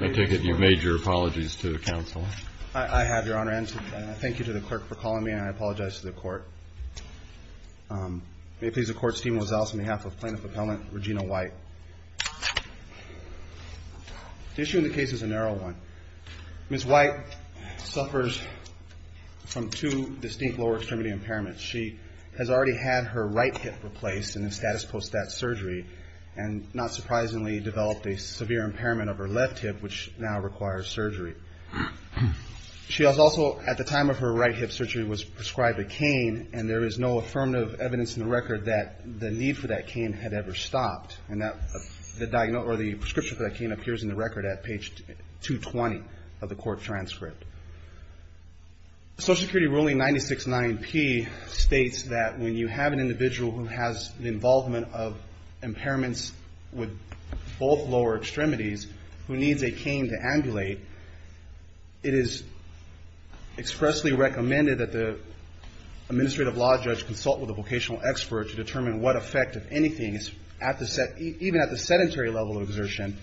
I take it you've made your apologies to the counsel. I have, Your Honor, and I thank you to the clerk for calling me and I apologize to the court. May it please the court, Steve Mozales on behalf of Plaintiff Appellant Regina White. The issue in the case is a narrow one. Ms. White suffers from two distinct lower extremity impairments. She has already had her right hip replaced in the status post that surgery and not surprisingly developed a severe impairment of her left hip which now requires surgery. She has also, at the time of her right hip surgery, was prescribed a cane and there is no affirmative evidence in the record that the need for that cane had ever stopped. And the prescription for that cane appears in the record at page 220 of the court transcript. The Social Security ruling 969P states that when you have an individual who has the involvement of impairments with both lower extremities who needs a cane to ambulate, it is expressly recommended that the administrative law judge consult with a vocational expert to determine what effect, if anything, even at the sedentary level of exertion,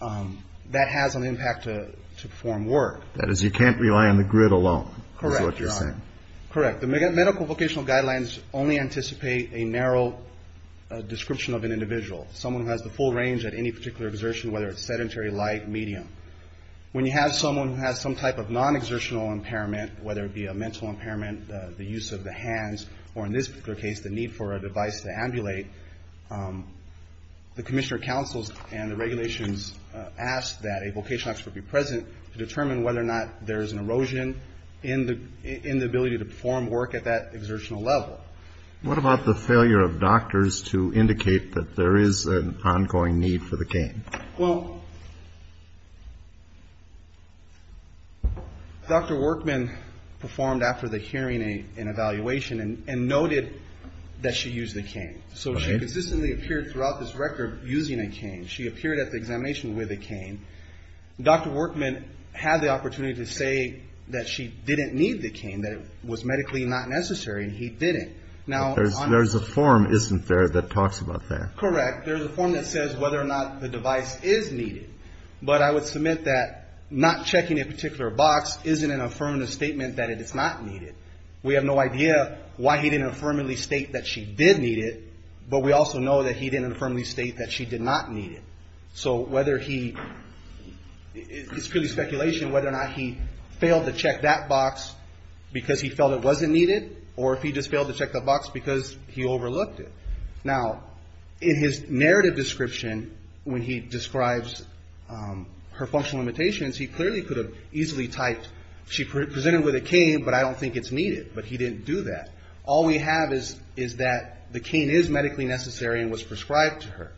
that has on the impact to perform work. That is, you can't rely on the grid alone is what you're saying. Correct. The medical vocational guidelines only anticipate a narrow description of an individual. Someone who has the full range at any particular exertion, whether it's sedentary, light, medium. When you have someone who has some type of non-exertional impairment, whether it be a mental impairment, the use of the hands, or in this particular case the need for a device to ambulate, the commissioner counsels and the regulations ask that a vocational expert be present to determine whether or not there is an erosion in the ability to perform work at that exertional level. What about the failure of doctors to indicate that there is an ongoing need for the cane? Well, Dr. Workman performed after the hearing and evaluation and noted that she used the cane. So she consistently appeared throughout this record using a cane. She appeared at the examination with a cane. Dr. Workman had the opportunity to say that she didn't need the cane, that it was medically not necessary, and he didn't. There's a form, isn't there, that talks about that? Correct. There's a form that says whether or not the device is needed. But I would submit that not checking a particular box isn't an affirmative statement that it is not needed. We have no idea why he didn't affirmatively state that she did need it, but we also know that he didn't affirmatively state that she did not need it. So it's purely speculation whether or not he failed to check that box because he felt it wasn't needed, or if he just failed to check that box because he overlooked it. Now, in his narrative description, when he describes her functional limitations, he clearly could have easily typed, she presented with a cane, but I don't think it's needed. But he didn't do that. All we have is that the cane is medically necessary and was prescribed to her.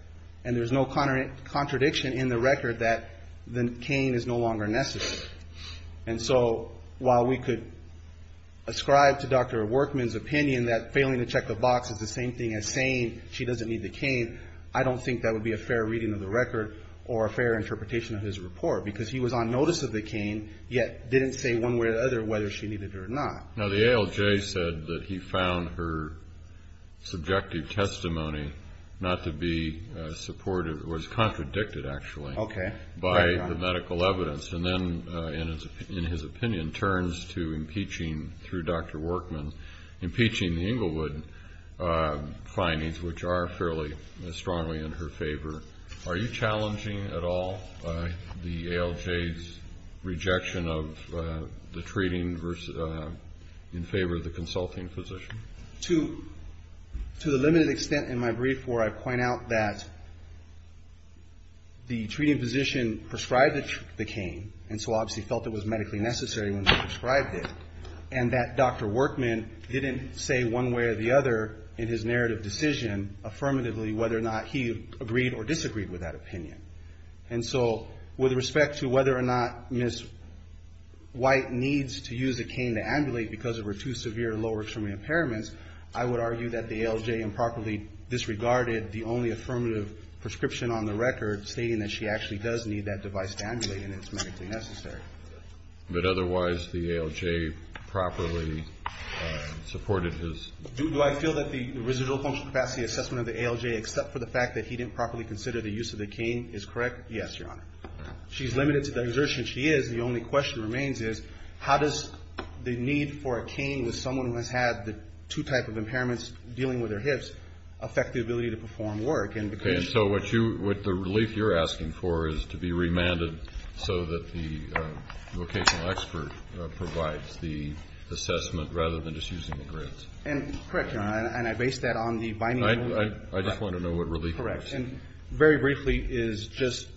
And there's no contradiction in the record that the cane is no longer necessary. And so while we could ascribe to Dr. Workman's opinion that failing to check the box is the same thing as saying she doesn't need the cane, I don't think that would be a fair reading of the record or a fair interpretation of his report because he was on notice of the cane, yet didn't say one way or the other whether she needed it or not. Now, the ALJ said that he found her subjective testimony not to be supportive, which was contradicted, actually, by the medical evidence. And then, in his opinion, turns to impeaching through Dr. Workman, impeaching the Englewood findings, which are fairly strongly in her favor. Are you challenging at all the ALJ's rejection of the treating in favor of the consulting physician? To the limited extent in my brief where I point out that the treating physician prescribed the cane, and so obviously felt it was medically necessary when she prescribed it, and that Dr. Workman didn't say one way or the other in his narrative decision, affirmatively, whether or not he agreed or disagreed with that opinion. And so with respect to whether or not Ms. White needs to use a cane to ambulate the medical evidence, I would argue that the ALJ improperly disregarded the only affirmative prescription on the record stating that she actually does need that device to ambulate and it's medically necessary. But otherwise, the ALJ properly supported his? Do I feel that the residual function capacity assessment of the ALJ, except for the fact that he didn't properly consider the use of the cane, is correct? Yes, Your Honor. She's limited to the exertion she is. The only question remains is how does the need for a cane with someone who has had the two type of impairments dealing with their hips affect the ability to perform work? And so what the relief you're asking for is to be remanded so that the vocational expert provides the assessment rather than just using the grits. Correct, Your Honor, and I base that on the binding. I just want to know what relief is. Correct, and very briefly is just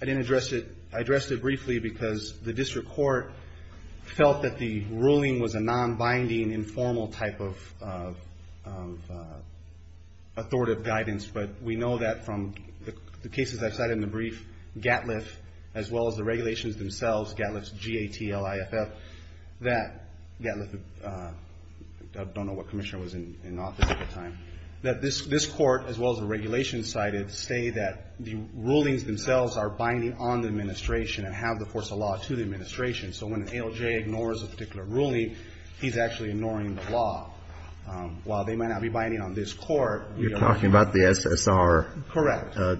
I didn't address it. I addressed it briefly because the district court felt that the ruling was a non-binding informal type of authoritative guidance, but we know that from the cases I've cited in the brief, GATLF as well as the regulations themselves, GATLF's G-A-T-L-I-F-F, that GATLF, I don't know what commissioner was in office at the time, that this court as well as the regulations cited say that the rulings themselves are binding on the administration and have the force of law to the administration. So when an ALJ ignores a particular ruling, he's actually ignoring the law. While they might not be binding on this court, we don't know. You're talking about the SSR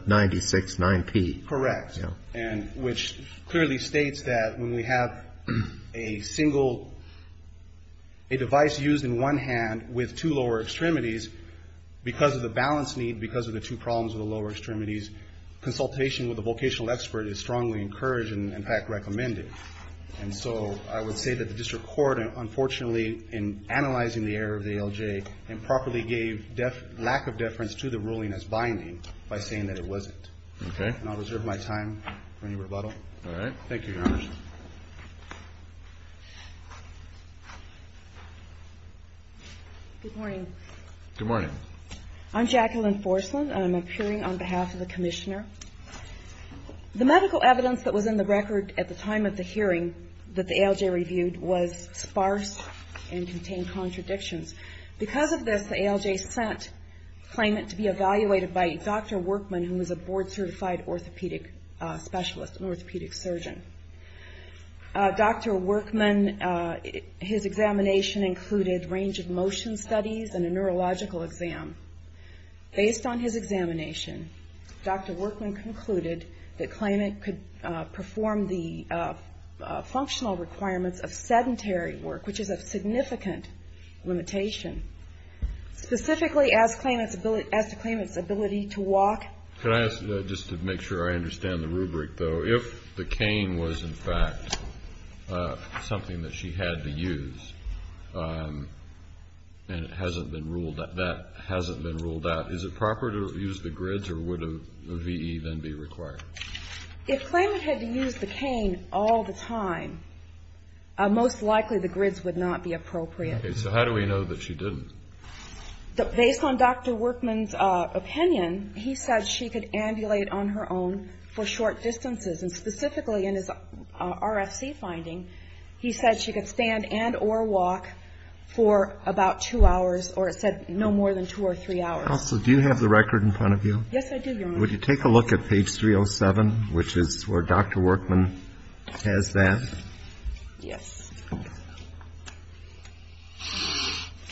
96-9P. Correct, and which clearly states that when we have a single, a device used in one hand with two lower extremities, because of the balance need, because of the two problems with the lower extremities, consultation with a vocational expert is strongly encouraged and, in fact, recommended. And so I would say that the district court, unfortunately, in analyzing the error of the ALJ, improperly gave lack of deference to the ruling as binding by saying that it wasn't. Okay. And I'll reserve my time for any rebuttal. All right. Thank you, Your Honor. Good morning. Good morning. I'm Jacqueline Forsland, and I'm appearing on behalf of the Commissioner. The medical evidence that was in the record at the time of the hearing that the ALJ reviewed was sparse and contained contradictions. Because of this, the ALJ sent a claimant to be evaluated by Dr. Workman, who was a board-certified orthopedic specialist, an orthopedic surgeon. Dr. Workman, his examination included range of motion studies and a neurological exam. Based on his examination, Dr. Workman concluded that claimant could perform the functional requirements of sedentary work, which is a significant limitation, specifically as to claimant's ability to walk. Could I ask, just to make sure I understand the rubric, though, if the cane was, in fact, something that she had to use and that hasn't been ruled out, is it proper to use the grids or would a VE then be required? If claimant had to use the cane all the time, most likely the grids would not be appropriate. Okay. So how do we know that she didn't? Based on Dr. Workman's opinion, he said she could ambulate on her own for short distances. And specifically in his RFC finding, he said she could stand and or walk for about two hours or said no more than two or three hours. Counsel, do you have the record in front of you? Yes, I do, Your Honor. Would you take a look at page 307, which is where Dr. Workman has that? Yes.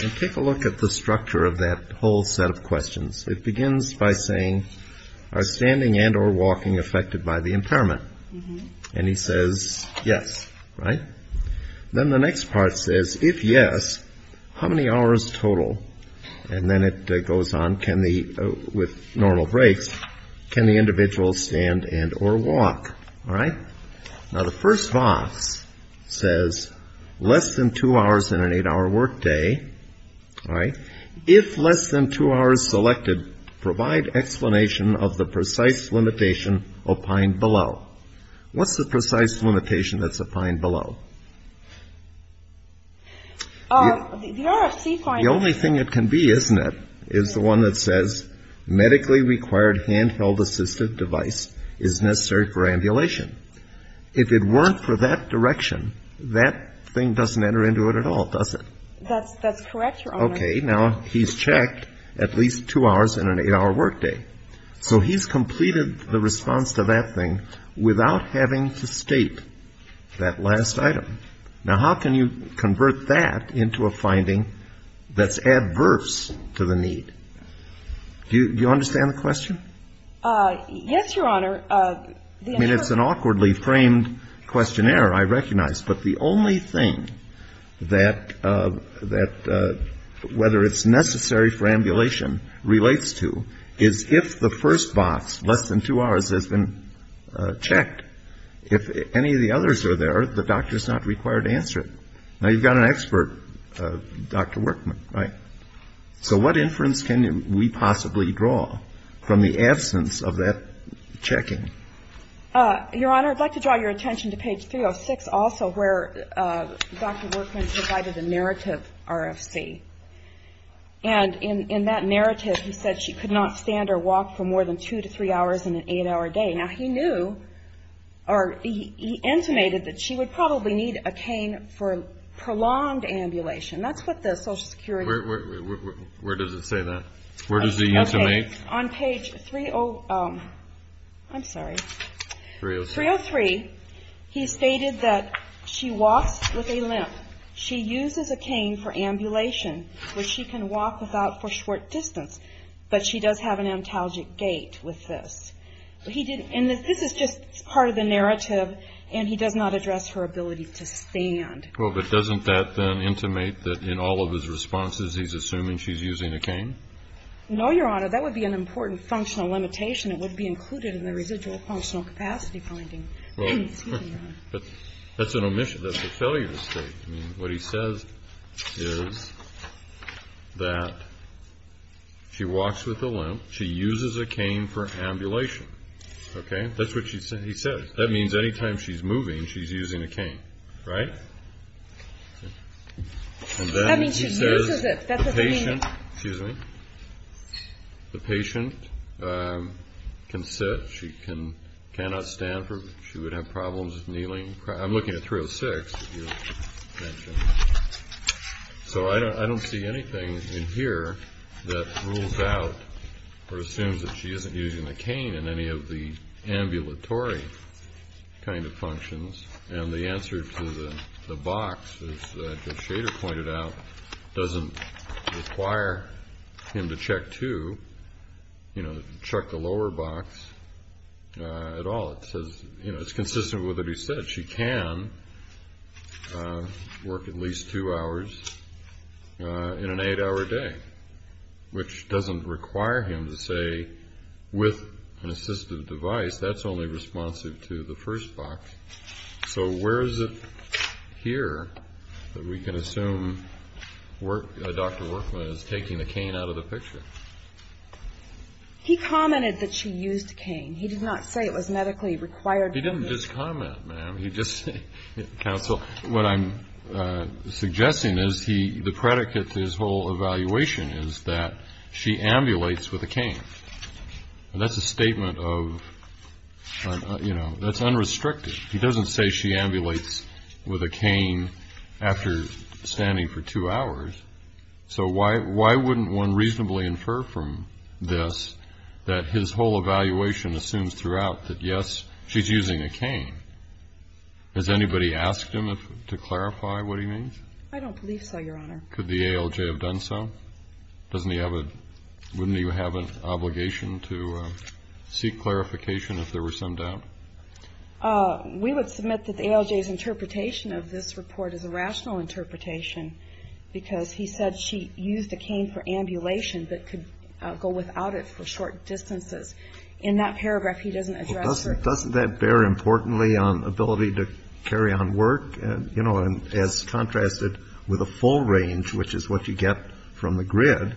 And take a look at the structure of that whole set of questions. It begins by saying, are standing and or walking affected by the impairment? And he says, yes. Right? Then the next part says, if yes, how many hours total? And then it goes on, can the, with normal breaks, can the individual stand and or walk? All right? Now, the first box says, less than two hours and an eight-hour workday. All right? If less than two hours selected, provide explanation of the precise limitation opined below. What's the precise limitation that's opined below? The RFC finding. The only thing it can be, isn't it, is the one that says, medically required handheld assistive device is necessary for ambulation. If it weren't for that direction, that thing doesn't enter into it at all, does it? That's correct, Your Honor. Okay. Now, he's checked at least two hours and an eight-hour workday. So he's completed the response to that thing without having to state that last item. Now, how can you convert that into a finding that's adverse to the need? Do you understand the question? Yes, Your Honor. I mean, it's an awkwardly framed questionnaire, I recognize. But the only thing that whether it's necessary for ambulation relates to is if the first box, less than two hours, has been checked. If any of the others are there, the doctor is not required to answer it. Now, you've got an expert, Dr. Workman, right? So what inference can we possibly draw from the absence of that checking? Your Honor, I'd like to draw your attention to page 306 also, where Dr. Workman provided a narrative RFC. And in that narrative, he said she could not stand or walk for more than two to three hours in an eight-hour day. Now, he knew, or he intimated that she would probably need a cane for prolonged ambulation. That's what the Social Security. Where does it say that? Where does he intimate? On page 303, he stated that she walks with a limp. She uses a cane for ambulation, where she can walk without for short distance. But she does have an antalgic gait with this. And this is just part of the narrative, and he does not address her ability to stand. Well, but doesn't that then intimate that in all of his responses, he's assuming she's using a cane? No, Your Honor. That would be an important functional limitation. It would be included in the residual functional capacity finding. But that's an omission. That's a failure state. I mean, what he says is that she walks with a limp. She uses a cane for ambulation. Okay? That's what he says. That means any time she's moving, she's using a cane, right? And then he says the patient can sit. She cannot stand. She would have problems kneeling. I'm looking at 306. So I don't see anything in here that rules out or assumes that she isn't using a cane in any of the ambulatory kind of functions. And the answer to the box, as Judge Shader pointed out, doesn't require him to check two, you know, check the lower box at all. It says, you know, it's consistent with what he said. She can work at least two hours in an eight-hour day, which doesn't require him to say with an assistive device. That's only responsive to the first box. So where is it here that we can assume Dr. Workman is taking the cane out of the picture? He commented that she used a cane. He did not say it was medically required. He didn't just comment, ma'am. Counsel, what I'm suggesting is the predicate to his whole evaluation is that she ambulates with a cane. And that's a statement of, you know, that's unrestricted. He doesn't say she ambulates with a cane after standing for two hours. So why wouldn't one reasonably infer from this that his whole evaluation assumes throughout that, yes, she's using a cane? Has anybody asked him to clarify what he means? I don't believe so, Your Honor. Could the ALJ have done so? Wouldn't he have an obligation to seek clarification if there were some doubt? We would submit that the ALJ's interpretation of this report is a rational interpretation because he said she used a cane for ambulation but could go without it for short distances. In that paragraph, he doesn't address her. Doesn't that bear importantly on ability to carry on work? You know, as contrasted with a full range, which is what you get from the grid,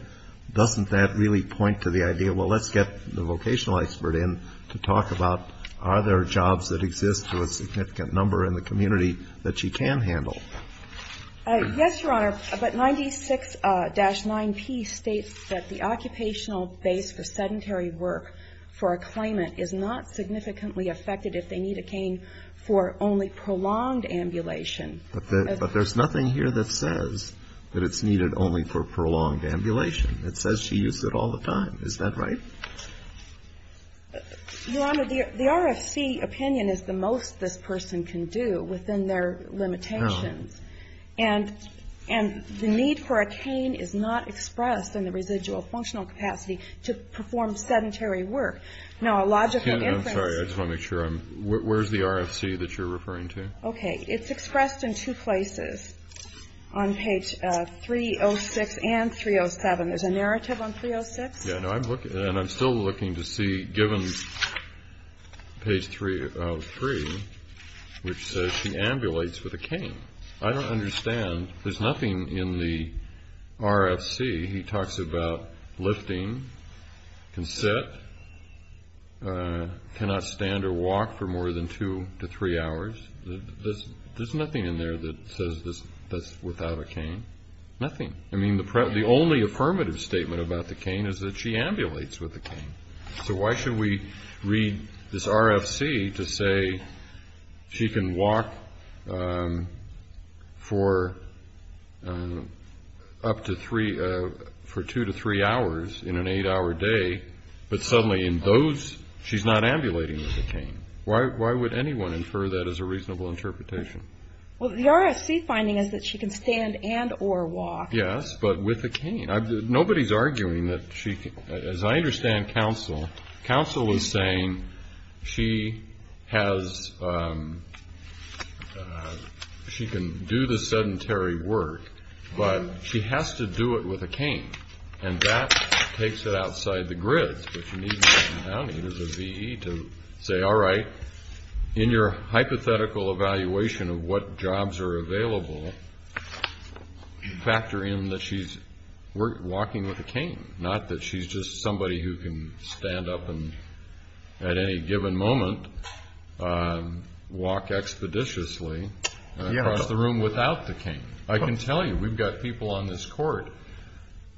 doesn't that really point to the idea, well, let's get the vocational expert in to talk about are there jobs that exist to a significant number in the community that she can handle? Yes, Your Honor. But 96-9P states that the occupational base for sedentary work for a claimant is not significantly affected if they need a cane for only prolonged ambulation. But there's nothing here that says that it's needed only for prolonged ambulation. It says she used it all the time. Is that right? Your Honor, the RFC opinion is the most this person can do within their limitations. And the need for a cane is not expressed in the residual functional capacity to perform sedentary work. Now, a logical inference. I'm sorry. I just want to make sure. Where's the RFC that you're referring to? Okay. It's expressed in two places on page 306 and 307. There's a narrative on 306. And I'm still looking to see, given page 303, which says she ambulates with a cane. I don't understand. There's nothing in the RFC. He talks about lifting, can sit, cannot stand or walk for more than two to three hours. There's nothing in there that says that's without a cane. Nothing. I mean, the only affirmative statement about the cane is that she ambulates with a cane. So why should we read this RFC to say she can walk for up to three, for two to three hours in an eight-hour day, but suddenly in those she's not ambulating with a cane? Why would anyone infer that as a reasonable interpretation? Well, the RFC finding is that she can stand and or walk. Yes, but with a cane. Nobody's arguing that she can. As I understand counsel, counsel is saying she has, she can do the sedentary work, but she has to do it with a cane. And that takes it outside the grid. It is a VE to say, all right, in your hypothetical evaluation of what jobs are available, factor in that she's walking with a cane, not that she's just somebody who can stand up and at any given moment walk expeditiously across the room without the cane. I can tell you we've got people on this court,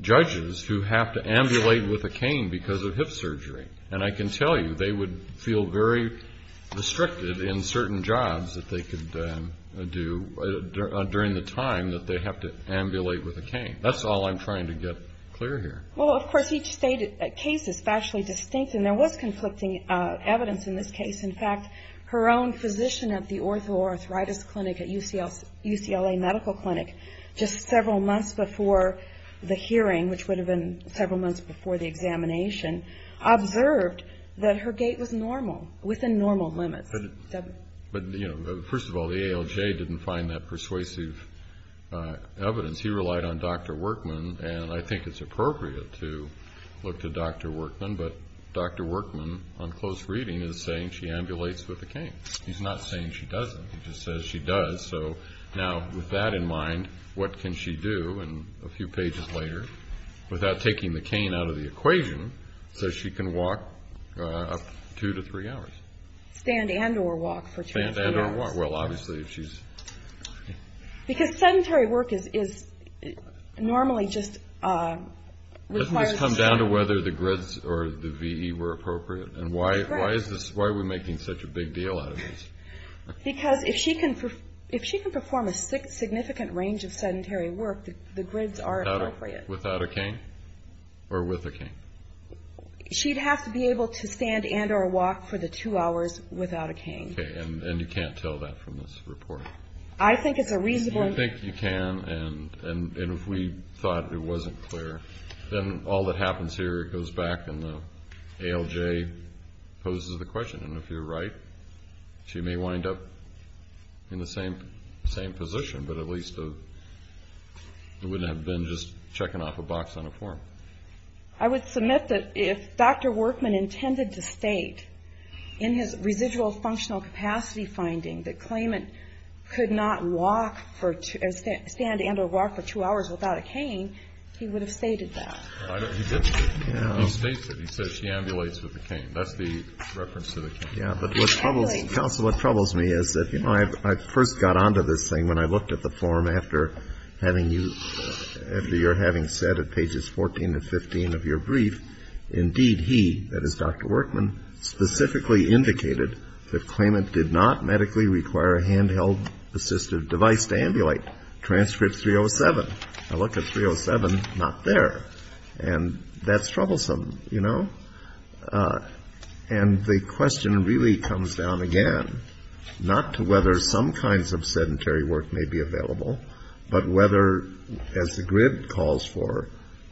judges, who have to ambulate with a cane because of hip surgery. And I can tell you they would feel very restricted in certain jobs that they could do during the time that they have to ambulate with a cane. That's all I'm trying to get clear here. Well, of course, each case is spatially distinct, and there was conflicting evidence in this case. In fact, her own physician at the orthoarthritis clinic at UCLA Medical Clinic just several months before the hearing, which would have been several months before the examination, observed that her gait was normal, within normal limits. But, you know, first of all, the ALJ didn't find that persuasive evidence. He relied on Dr. Workman, and I think it's appropriate to look to Dr. Workman, but Dr. Workman, on close reading, is saying she ambulates with a cane. He's not saying she doesn't. He just says she does. So now, with that in mind, what can she do, and a few pages later, without taking the cane out of the equation, says she can walk up to two to three hours. Stand and or walk for two to three hours. Stand and or walk. Well, obviously, if she's... Because sedentary work is normally just requires... Doesn't this come down to whether the grids or the VE were appropriate? Right. And why are we making such a big deal out of this? Because if she can perform a significant range of sedentary work, the grids are appropriate. Without a cane? Or with a cane? She'd have to be able to stand and or walk for the two hours without a cane. Okay, and you can't tell that from this report? I think it's a reasonable... I think you can, and if we thought it wasn't clear, then all that happens here, it goes back, and the ALJ poses the question. And if you're right, she may wind up in the same position, but at least it wouldn't have been just checking off a box on a form. I would submit that if Dr. Workman intended to state in his residual functional capacity finding that claimant could not walk or stand and or walk for two hours without a cane, he would have stated that. He did. He states it. He says she ambulates with a cane. That's the reference to the cane. Yeah, but what troubles me is that, you know, I first got onto this thing when I looked at the form after having you, after your having said at pages 14 to 15 of your brief, indeed he, that is Dr. Workman, specifically indicated that claimant did not medically require a handheld assistive device to ambulate. Transcript 307. I look at 307, not there, and that's troublesome, you know? And the question really comes down again not to whether some kinds of sedentary work may be available, but whether, as the grid calls for,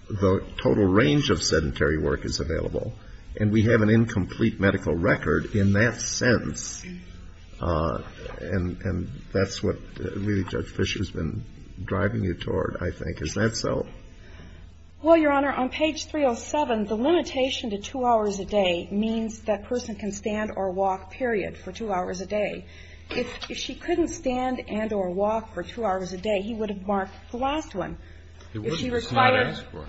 the total range of sedentary work is available. And we have an incomplete medical record in that sense. And that's what really Judge Fischer has been driving you toward, I think. Is that so? Well, Your Honor, on page 307, the limitation to two hours a day means that person can stand or walk, period, for two hours a day. If she couldn't stand and or walk for two hours a day, he would have marked the last one. It's not asked for.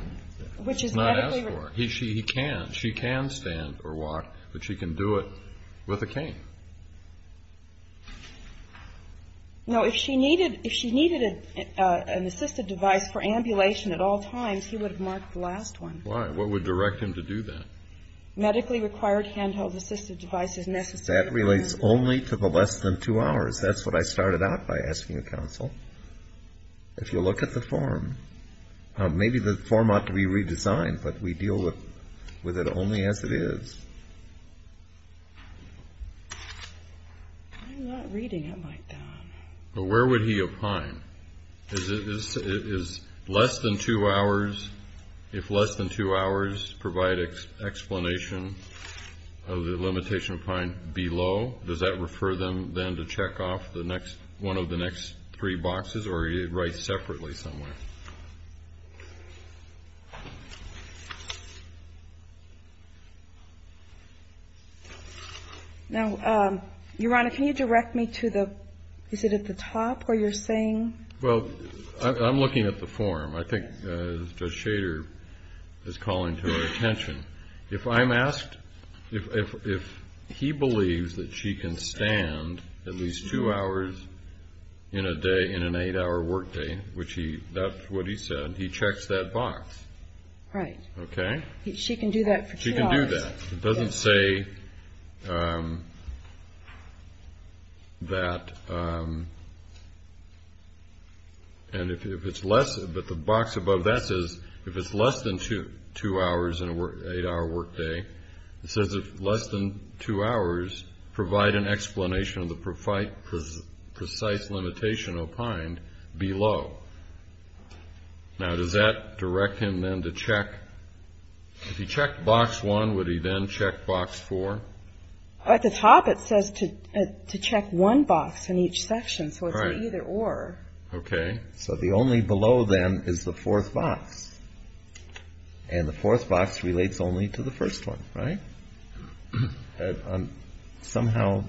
It's not asked for. He can. She can stand or walk, but she can do it with a cane. No, if she needed an assistive device for ambulation at all times, he would have marked the last one. Why? What would direct him to do that? Medically required handheld assistive device is necessary. That relates only to the less than two hours. That's what I started out by asking the counsel. If you look at the form, maybe the form ought to be redesigned, but we deal with it only as it is. I'm not reading it like that. But where would he opine? Is less than two hours, if less than two hours provide explanation of the limitation opine below, does that refer them then to check off one of the next three boxes or write separately somewhere? Now, Your Honor, can you direct me to the, is it at the top where you're saying? Well, I'm looking at the form. I think Judge Shader is calling to our attention. If I'm asked, if he believes that she can stand at least two hours in a day in an eight-hour workday, which he, that's what he said, he checks that box. Right. Okay? She can do that for two hours. She can do that. It doesn't say that, and if it's less, but the box above that says if it's less than two hours in an eight-hour workday, it says if less than two hours provide an explanation of the precise limitation opined below. Now, does that direct him then to check? If he checked box one, would he then check box four? At the top, it says to check one box in each section, so it's either or. Right. Okay. So the only below, then, is the fourth box, and the fourth box relates only to the first one. Right? Somehow.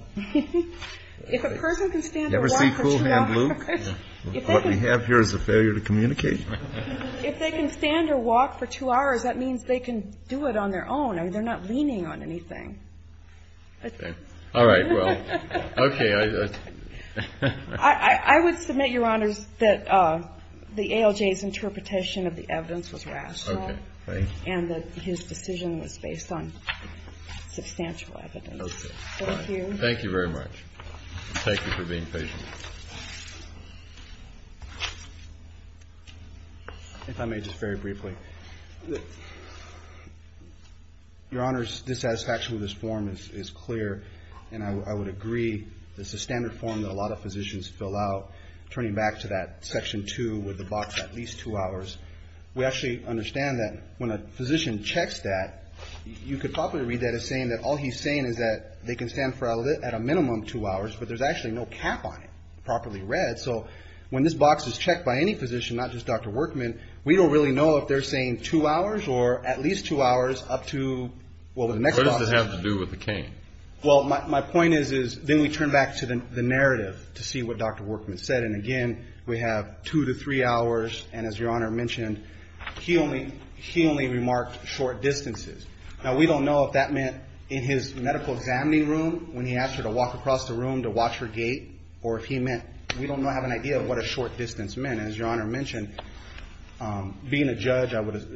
If a person can stand or walk for two hours. You ever see Cool Hand Luke? What we have here is a failure to communicate. If they can stand or walk for two hours, that means they can do it on their own. I mean, they're not leaning on anything. Okay. All right. Well, okay. I would submit, Your Honors, that the ALJ's interpretation of the evidence was rational. Okay. And that his decision was based on substantial evidence. Okay. Thank you. Thank you very much. Thank you for being patient. If I may, just very briefly. Your Honors, the satisfaction with this form is clear, and I would agree. It's a standard form that a lot of physicians fill out. Turning back to that section two with the box at least two hours, we actually understand that when a physician checks that, you could probably read that as saying that all he's saying is that they can stand at a minimum two hours, but there's actually no cap on it, properly read. So when this box is checked by any physician, not just Dr. Workman, we don't really know if they're saying two hours or at least two hours up to, well, the next doctor. What does this have to do with the cane? Well, my point is then we turn back to the narrative to see what Dr. Workman said. And, again, we have two to three hours, and as Your Honor mentioned, he only remarked short distances. Now, we don't know if that meant in his medical examining room when he asked her to walk across the room to watch her gait, or if he meant we don't have an idea of what a short distance meant. And as Your Honor mentioned, being a judge, I would have,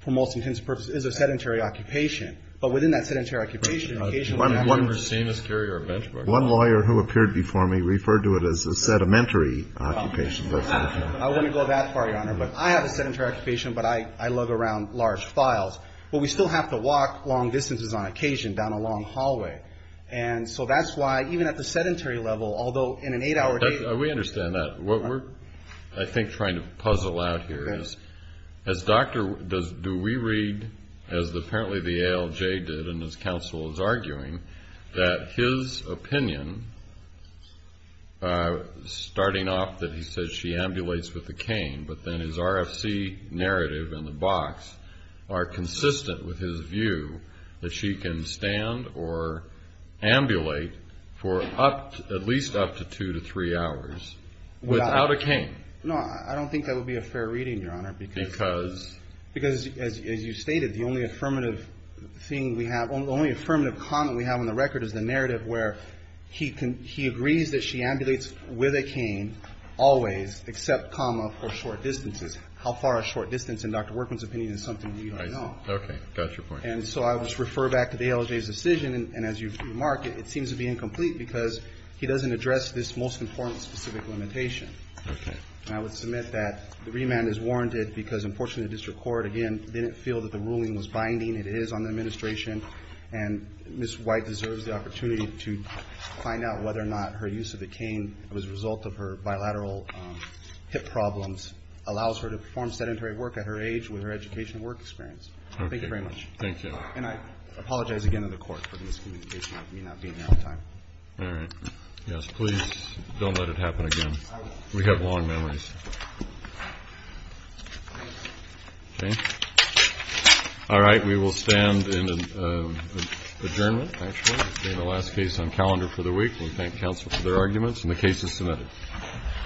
for most intensive purposes, is a sedentary occupation. But within that sedentary occupation, occasionally we have to go that far. One lawyer who appeared before me referred to it as a sedimentary occupation. I wouldn't go that far, Your Honor. But I have a sedentary occupation, but I lug around large files. But we still have to walk long distances on occasion down a long hallway. And so that's why even at the sedentary level, although in an eight-hour date. We understand that. What we're, I think, trying to puzzle out here is, as doctor, do we read, as apparently the ALJ did and as counsel is arguing, that his opinion, starting off that he says she ambulates with a cane, but then his RFC narrative and the box are consistent with his view that she can stand or ambulate for at least up to two to three hours. Without a cane. No, I don't think that would be a fair reading, Your Honor. Because? Because, as you stated, the only affirmative thing we have, only affirmative comment we have on the record is the narrative where he agrees that she ambulates with a cane always, except comma for short distances. How far a short distance, in Dr. Workman's opinion, is something we don't know. Okay. Got your point. And so I would just refer back to the ALJ's decision. And as you've remarked, it seems to be incomplete because he doesn't address this most important specific limitation. Okay. And I would submit that the remand is warranted because, unfortunately, the district court, again, didn't feel that the ruling was binding. It is on the administration. And Ms. White deserves the opportunity to find out whether or not her use of the cane as a result of her bilateral hip problems allows her to perform sedentary work at her age with her educational work experience. Okay. Thank you very much. Thank you. And I apologize again to the Court for the miscommunication. I may not be in there on time. All right. Yes. Please don't let it happen again. We have long memories. Okay. All right. We will stand in adjournment, actually, in the last case on calendar for the week. We thank counsel for their arguments. And the case is submitted.